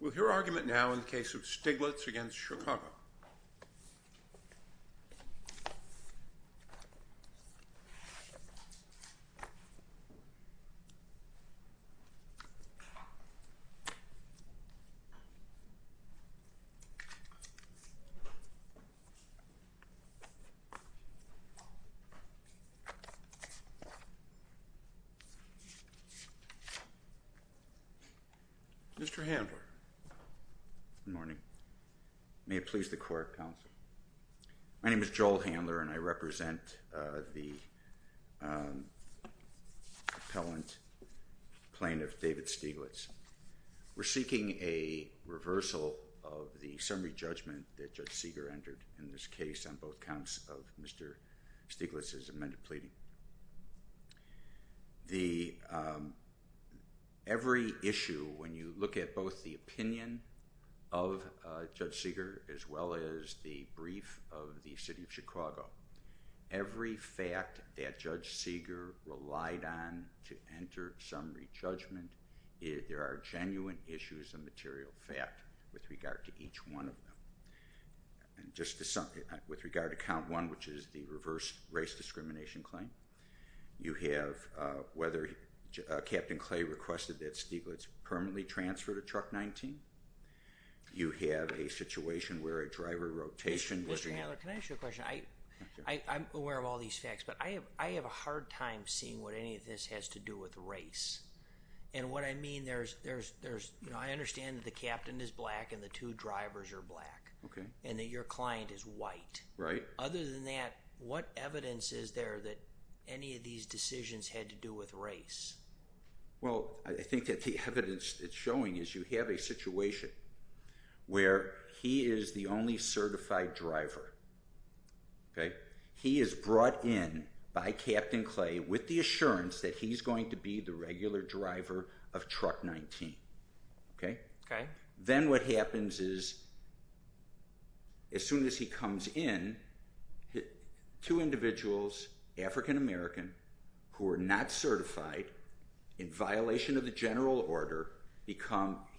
We'll hear argument now in the case of Stieglitz v. Chicago. Mr. Handler Good morning. May it please the court, counsel. My name is Joel Handler and I represent the appellant plaintiff, David Stieglitz. We're seeking a reversal of the summary judgment that Judge Seeger entered in this case on both counts of Mr. Stieglitz's amended pleading. Every issue, when you look at both the opinion of Judge Seeger as well as the brief of the City of Chicago, every fact that Judge Seeger relied on to enter summary judgment, there are genuine issues of material fact with regard to each one of them. With regard to count one, which is the reverse race discrimination claim, you have whether Captain Clay requested that Stieglitz permanently transfer to truck 19. You have a situation where a driver rotation... Mr. Handler, can I ask you a question? I'm aware of all these facts, but I have a hard time seeing what any of this has to do with race. I understand that the captain is black and the two drivers are black and that your client is white. Other than that, what evidence is there that any of these decisions had to do with race? I think that the evidence that's showing is you have a situation where he is the only certified driver. He is brought in by Captain Clay with the assurance that he's going to be the regular driver of truck 19. Then what happens is as soon as he comes in, two individuals, African American, who are not certified, in violation of the general order,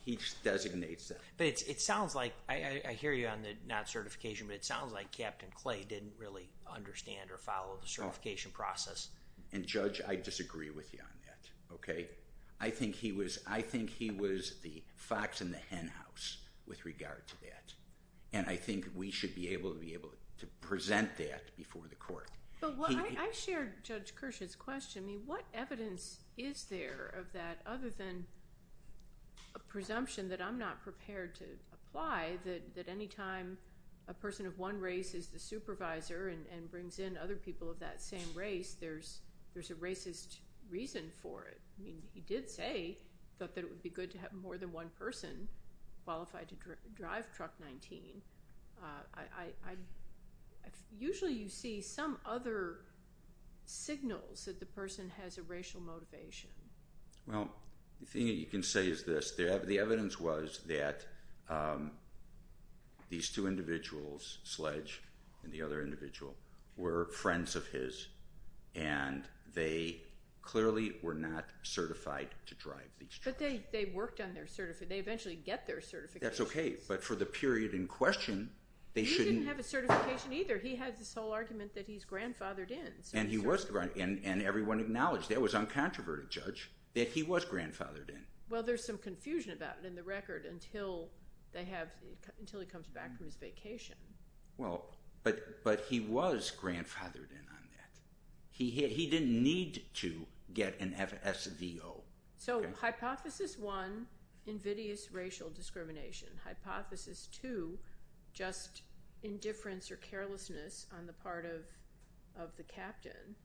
he designates them. I hear you on the not certification, but it sounds like Captain Clay didn't really understand or follow the certification process. Judge, I disagree with you on that. I think he was the fox in the hen house with regard to that. I think we should be able to present that before the court. I shared Judge Kirsch's question. What evidence is there of that other than a presumption that I'm not prepared to apply that any time a person of one race is the supervisor and brings in other people of that same race, there's a racist reason for it. He did say that it would be good to have more than one person qualified to drive truck 19. Usually you see some other signals that the person has a racial motivation. Well, the thing that you can say is this. The evidence was that these two individuals, Sledge and the other individual, were friends of his, and they clearly were not certified to drive these trucks. But they worked on their certification. They eventually get their certification. I think that's okay, but for the period in question, they shouldn't… He didn't have a certification either. He had this whole argument that he's grandfathered in. And everyone acknowledged, that was uncontroverted, Judge, that he was grandfathered in. Well, there's some confusion about it in the record until he comes back from his vacation. Well, but he was grandfathered in on that. He didn't need to get an FSVO. So, hypothesis one, invidious racial discrimination. Hypothesis two, just indifference or carelessness on the part of the captain.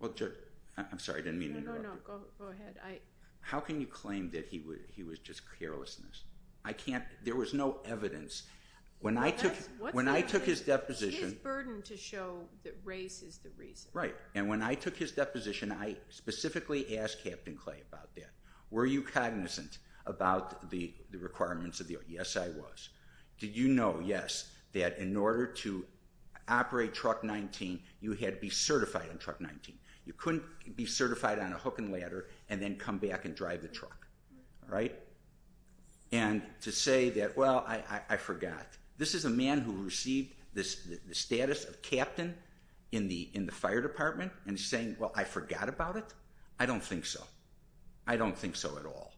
Well, Judge, I'm sorry. I didn't mean to interrupt you. No, no, no. Go ahead. How can you claim that he was just carelessness? I can't. There was no evidence. When I took his deposition… It's his burden to show that race is the reason. Right. Right. And when I took his deposition, I specifically asked Captain Clay about that. Were you cognizant about the requirements of the… Yes, I was. Did you know, yes, that in order to operate Truck 19, you had to be certified on Truck 19? You couldn't be certified on a hook and ladder and then come back and drive the truck. Right. Right? And to say that, well, I forgot. This is a man who received the status of captain in the fire department and is saying, well, I forgot about it? I don't think so. I don't think so at all.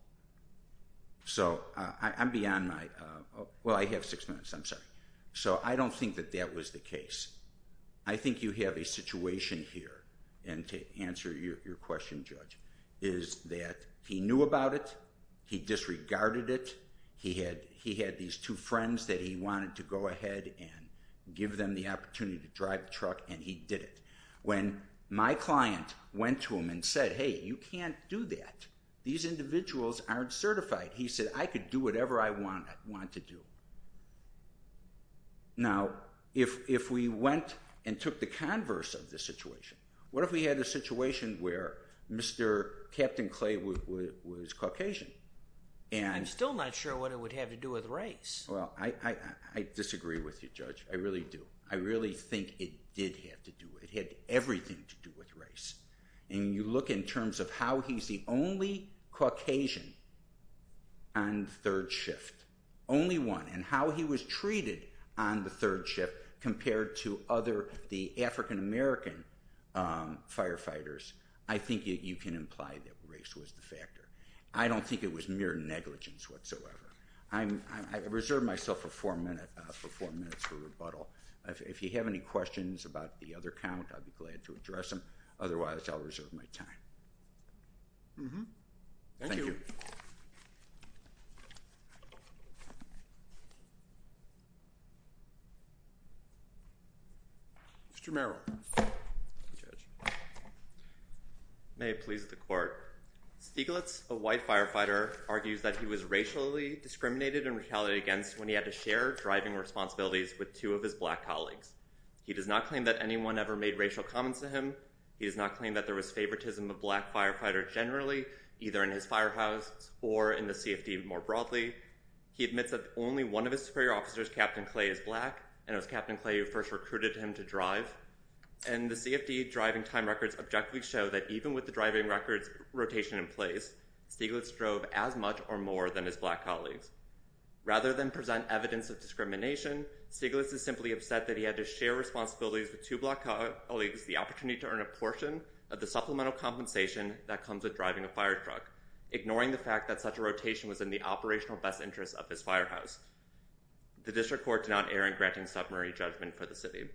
So I'm beyond my… Well, I have six minutes. I'm sorry. So I don't think that that was the case. I think you have a situation here, and to answer your question, Judge, is that he knew about it, he disregarded it, he had these two friends that he wanted to go ahead and give them the opportunity to drive the truck, and he did it. When my client went to him and said, hey, you can't do that. These individuals aren't certified. He said, I could do whatever I want to do. Now, if we went and took the converse of the situation, what if we had a situation where Mr. Captain Clay was Caucasian? I'm still not sure what it would have to do with race. Well, I disagree with you, Judge. I really do. I really think it did have to do with it. It had everything to do with race. And you look in terms of how he's the only Caucasian on the third shift, only one, and how he was treated on the third shift compared to other African-American firefighters, I think you can imply that race was the factor. I don't think it was mere negligence whatsoever. I reserve myself for four minutes for rebuttal. If you have any questions about the other count, I'd be glad to address them. Otherwise, I'll reserve my time. Thank you. Mr. Merrill. May it please the court. Stieglitz, a white firefighter, argues that he was racially discriminated and retaliated against when he had to share driving responsibilities with two of his black colleagues. He does not claim that anyone ever made racial comments to him. He does not claim that there was favoritism of black firefighters generally, either in his firehouse or in the CFD more broadly. He admits that only one of his superior officers, Captain Clay, is black, and it was Captain Clay who first recruited him to drive. And the CFD driving time records objectively show that even with the driving records rotation in place, Stieglitz drove as much or more than his black colleagues. Rather than present evidence of discrimination, Stieglitz is simply upset that he had to share responsibilities with two black colleagues, the opportunity to earn a portion of the supplemental compensation that comes with driving a firetruck, ignoring the fact that such a rotation was in the operational best interest of his firehouse. The district court did not err in granting submarine judgment for the city.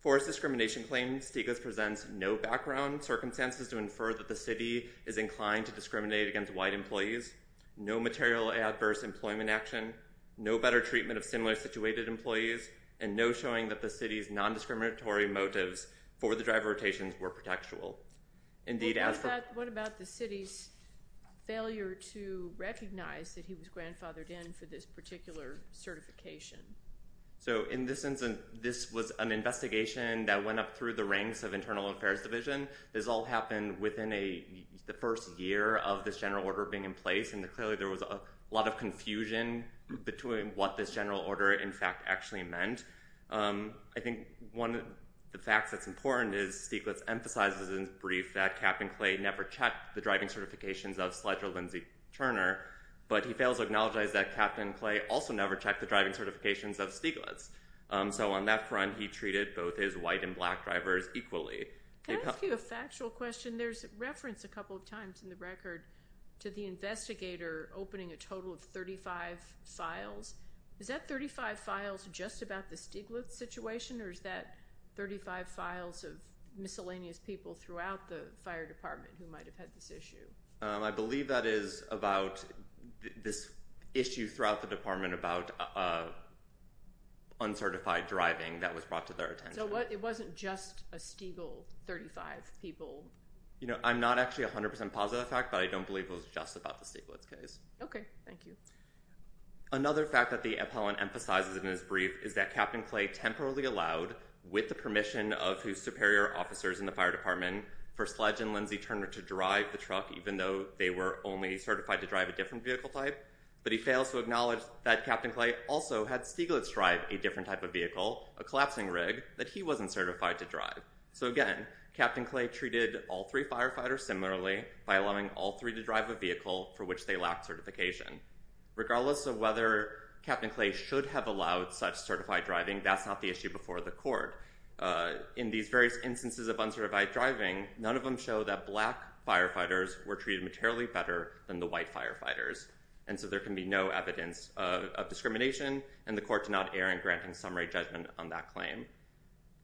For his discrimination claim, Stieglitz presents no background circumstances to infer that the city is inclined to discriminate against white employees, no material adverse employment action, no better treatment of similar situated employees, and no showing that the city's nondiscriminatory motives for the driver rotations were protectual. What about the city's failure to recognize that he was grandfathered in for this particular certification? In this instance, this was an investigation that went up through the ranks of Internal Affairs Division. This all happened within the first year of this general order being in place, and clearly there was a lot of confusion between what this general order, in fact, actually meant. I think one of the facts that's important is Stieglitz emphasizes in his brief that Captain Clay never checked the driving certifications of Sledge or Lindsey Turner, but he fails to acknowledge that Captain Clay also never checked the driving certifications of Stieglitz. So on that front, he treated both his white and black drivers equally. Can I ask you a factual question? There's reference a couple of times in the record to the investigator opening a total of 35 files. Is that 35 files just about the Stieglitz situation, or is that 35 files of miscellaneous people throughout the fire department who might have had this issue? I believe that is about this issue throughout the department about uncertified driving that was brought to their attention. So it wasn't just a Stieglitz 35 people? I'm not actually 100% positive of that fact, but I don't believe it was just about the Stieglitz case. Okay. Thank you. Another fact that the appellant emphasizes in his brief is that Captain Clay temporarily allowed, with the permission of his superior officers in the fire department, for Sledge and Lindsay Turner to drive the truck, even though they were only certified to drive a different vehicle type. But he fails to acknowledge that Captain Clay also had Stieglitz drive a different type of vehicle, a collapsing rig, that he wasn't certified to drive. So again, Captain Clay treated all three firefighters similarly by allowing all three to drive a vehicle for which they lacked certification. Regardless of whether Captain Clay should have allowed such certified driving, that's not the issue before the court. In these various instances of uncertified driving, none of them show that black firefighters were treated materially better than the white firefighters. And so there can be no evidence of discrimination, and the court did not err in granting summary judgment on that claim.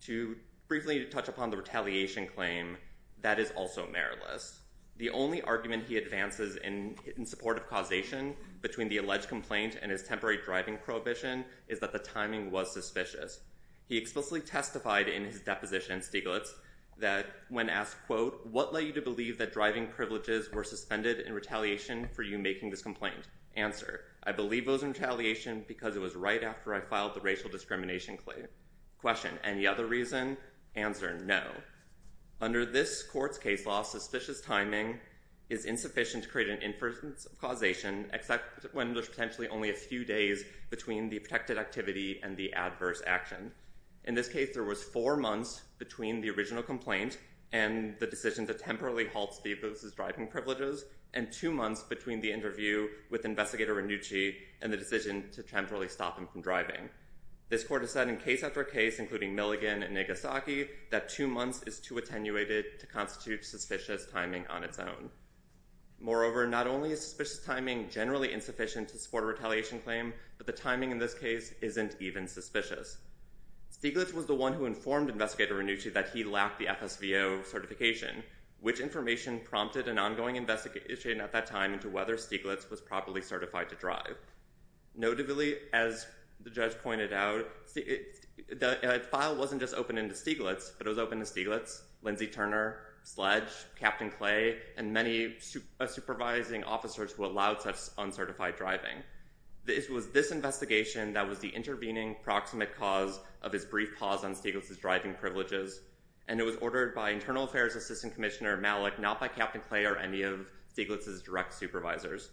To briefly touch upon the retaliation claim, that is also meritless. The only argument he advances in support of causation between the alleged complaint and his temporary driving prohibition is that the timing was suspicious. He explicitly testified in his deposition, Stieglitz, that when asked, quote, what led you to believe that driving privileges were suspended in retaliation for you making this complaint? Answer. I believe it was retaliation because it was right after I filed the racial discrimination claim. Question. Any other reason? Answer. No. Under this court's case law, suspicious timing is insufficient to create an inference of causation, except when there's potentially only a few days between the protected activity and the adverse action. In this case, there was four months between the original complaint and the decision to temporarily halt Stieglitz's driving privileges, and two months between the interview with investigator Renucci and the decision to temporarily stop him from driving. This court has said in case after case, including Milligan and Nagasaki, that two months is too attenuated to constitute suspicious timing on its own. Moreover, not only is suspicious timing generally insufficient to support a claim, but the fact that Stieglitz is driving isn't even suspicious. Stieglitz was the one who informed investigator Renucci that he lacked the FSVO certification, which information prompted an ongoing investigation at that time into whether Stieglitz was properly certified to drive. Notably, as the judge pointed out, the file wasn't just open into Stieglitz, but it was open to Stieglitz, Lindsay Turner, Sledge, Captain Clay, and many supervising officers who allowed such uncertified driving. It was this investigation that was the intervening proximate cause of his brief pause on Stieglitz's driving privileges, and it was ordered by Internal Affairs Assistant Commissioner Malik, not by Captain Clay or any of Stieglitz's direct supervisors.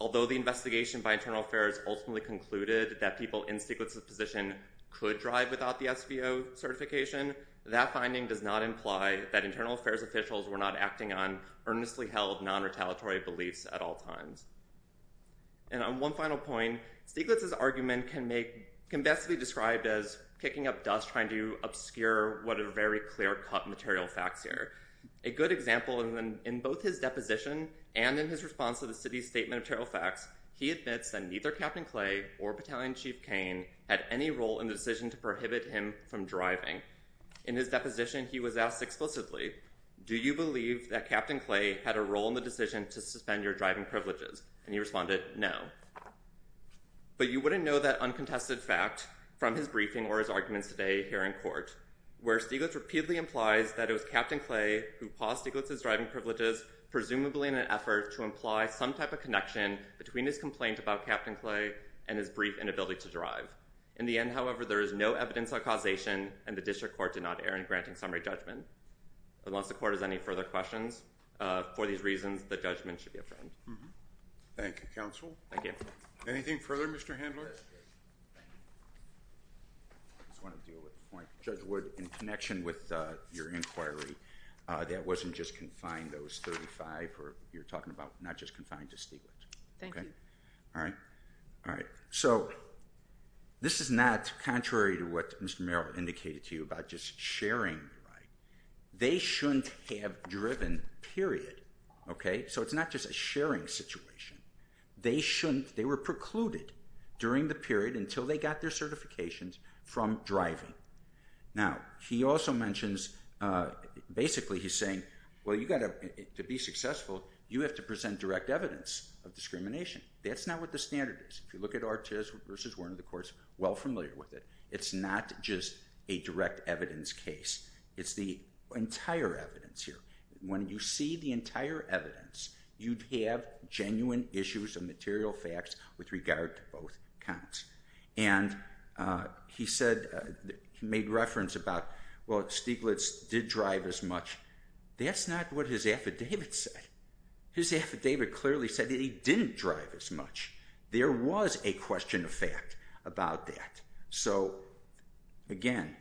Although the investigation by Internal Affairs ultimately concluded that people in Stieglitz's position could drive without the SVO certification, that finding does not imply that Internal Affairs officials were not acting on earnestly held non-retaliatory beliefs at all times. And on one final point, Stieglitz's argument can best be described as kicking up dust, trying to obscure what are very clear cut material facts here. A good example, in both his deposition and in his response to the city's statement of material facts, he admits that neither Captain Clay or Battalion Chief Kane had any role in the decision to prohibit him from driving. In his deposition, he was asked explicitly, do you believe that Captain Clay had a role in the decision to suspend your driving privileges? And he responded, no. But you wouldn't know that uncontested fact from his briefing or his arguments today here in court, where Stieglitz repeatedly implies that it was Captain Clay who paused Stieglitz's driving privileges, presumably in an effort to imply some type of connection between his complaint about Captain Clay and his brief inability to drive. In the end, however, there is no evidence of causation and the district court did not err in granting summary judgment. Unless the court has any further questions for these reasons, the judgment should be obtained. Thank you, Counsel. Thank you. Anything further, Mr. Handler? Judge Wood, in connection with your inquiry, that wasn't just confined, that was 35 or you're talking about not just confined to Stieglitz. Thank you. All right. All right. So this is not contrary to what Mr. Merrill indicated to you about just sharing the right. They shouldn't have driven, period. Okay. So it's not just a sharing situation. They shouldn't, they were precluded during the period until they got their certifications from driving. Now he also mentions, basically he's saying, well, you got to be successful. You have to present direct evidence of discrimination. That's not what the standard is. If you look at Artis versus Werner, the court's well familiar with it. It's not just a direct evidence case. It's the entire evidence here. When you see the entire evidence, you'd have genuine issues and material facts with regard to both counts. And he said, he made reference about, well, Stieglitz did drive as much. That's not what his affidavit said. His affidavit clearly said that he didn't drive as much. There was a question of fact about that. So again,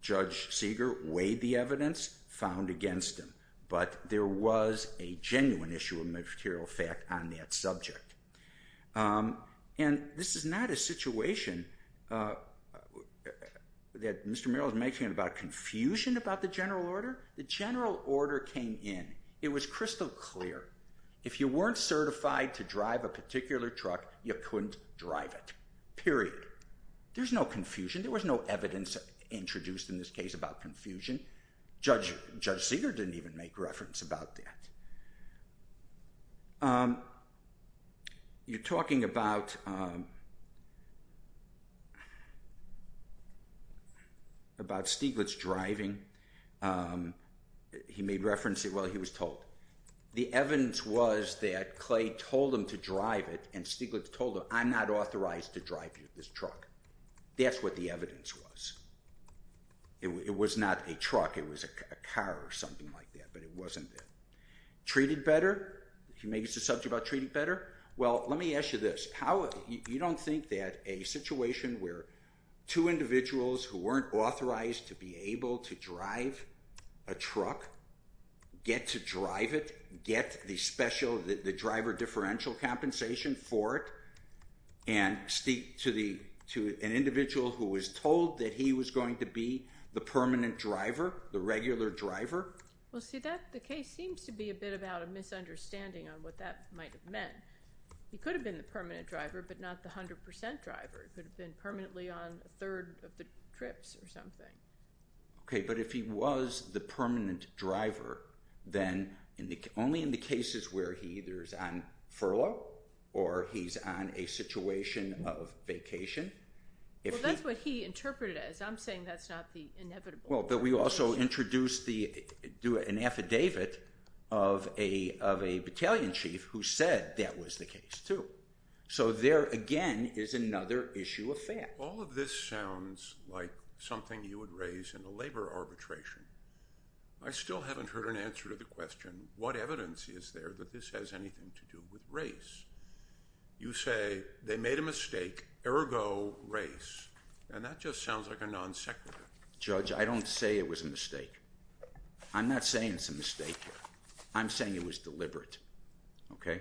Judge Seeger weighed the evidence, found against him. But there was a genuine issue of material fact on that subject. And this is not a situation that Mr. Merrill is making about confusion about the general order. The general order came in. It was crystal clear. If you weren't certified to drive a particular truck, you couldn't drive it. Period. There's no confusion. There was no evidence introduced in this case about confusion. Judge Seeger didn't even make reference about that. You're talking about, about Stieglitz driving. He made reference, well, he was told. The evidence was that Clay told him to drive it, and Stieglitz told him, I'm not authorized to drive this truck. That's what the evidence was. It was not a truck. It was a car or something like that. But it wasn't that. Treated better? He makes the subject about treated better? Well, let me ask you this. How, you don't think that a situation where two individuals who weren't authorized to be able to drive a truck, get to drive it, get the special, the driver differential compensation for it, and to an individual who was told that he was going to be the permanent driver, the regular driver? Well, see, the case seems to be a bit about a misunderstanding on what that might have meant. He could have been the permanent driver, but not the 100% driver. He could have been permanently on a third of the trips or something. Okay, but if he was the permanent driver, then only in the cases where he either is on furlough or he's on a situation of vacation. Well, that's what he interpreted it as. I'm saying that's not the inevitable. Well, but we also introduced an affidavit of a battalion chief who said that was the case, too. So there, again, is another issue of fact. All of this sounds like something you would raise in a labor arbitration. I still haven't heard an answer to the question, what evidence is there that this has anything to do with race? You say they made a mistake, ergo race, and that just sounds like a non-sequitur. Judge, I don't say it was a mistake. I'm not saying it's a mistake. I'm saying it was deliberate, okay?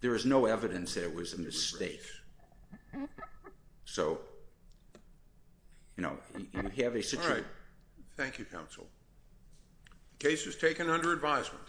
There is no evidence there was a mistake. So, you know, you have a situation. Thank you, counsel. The case is taken under advisement.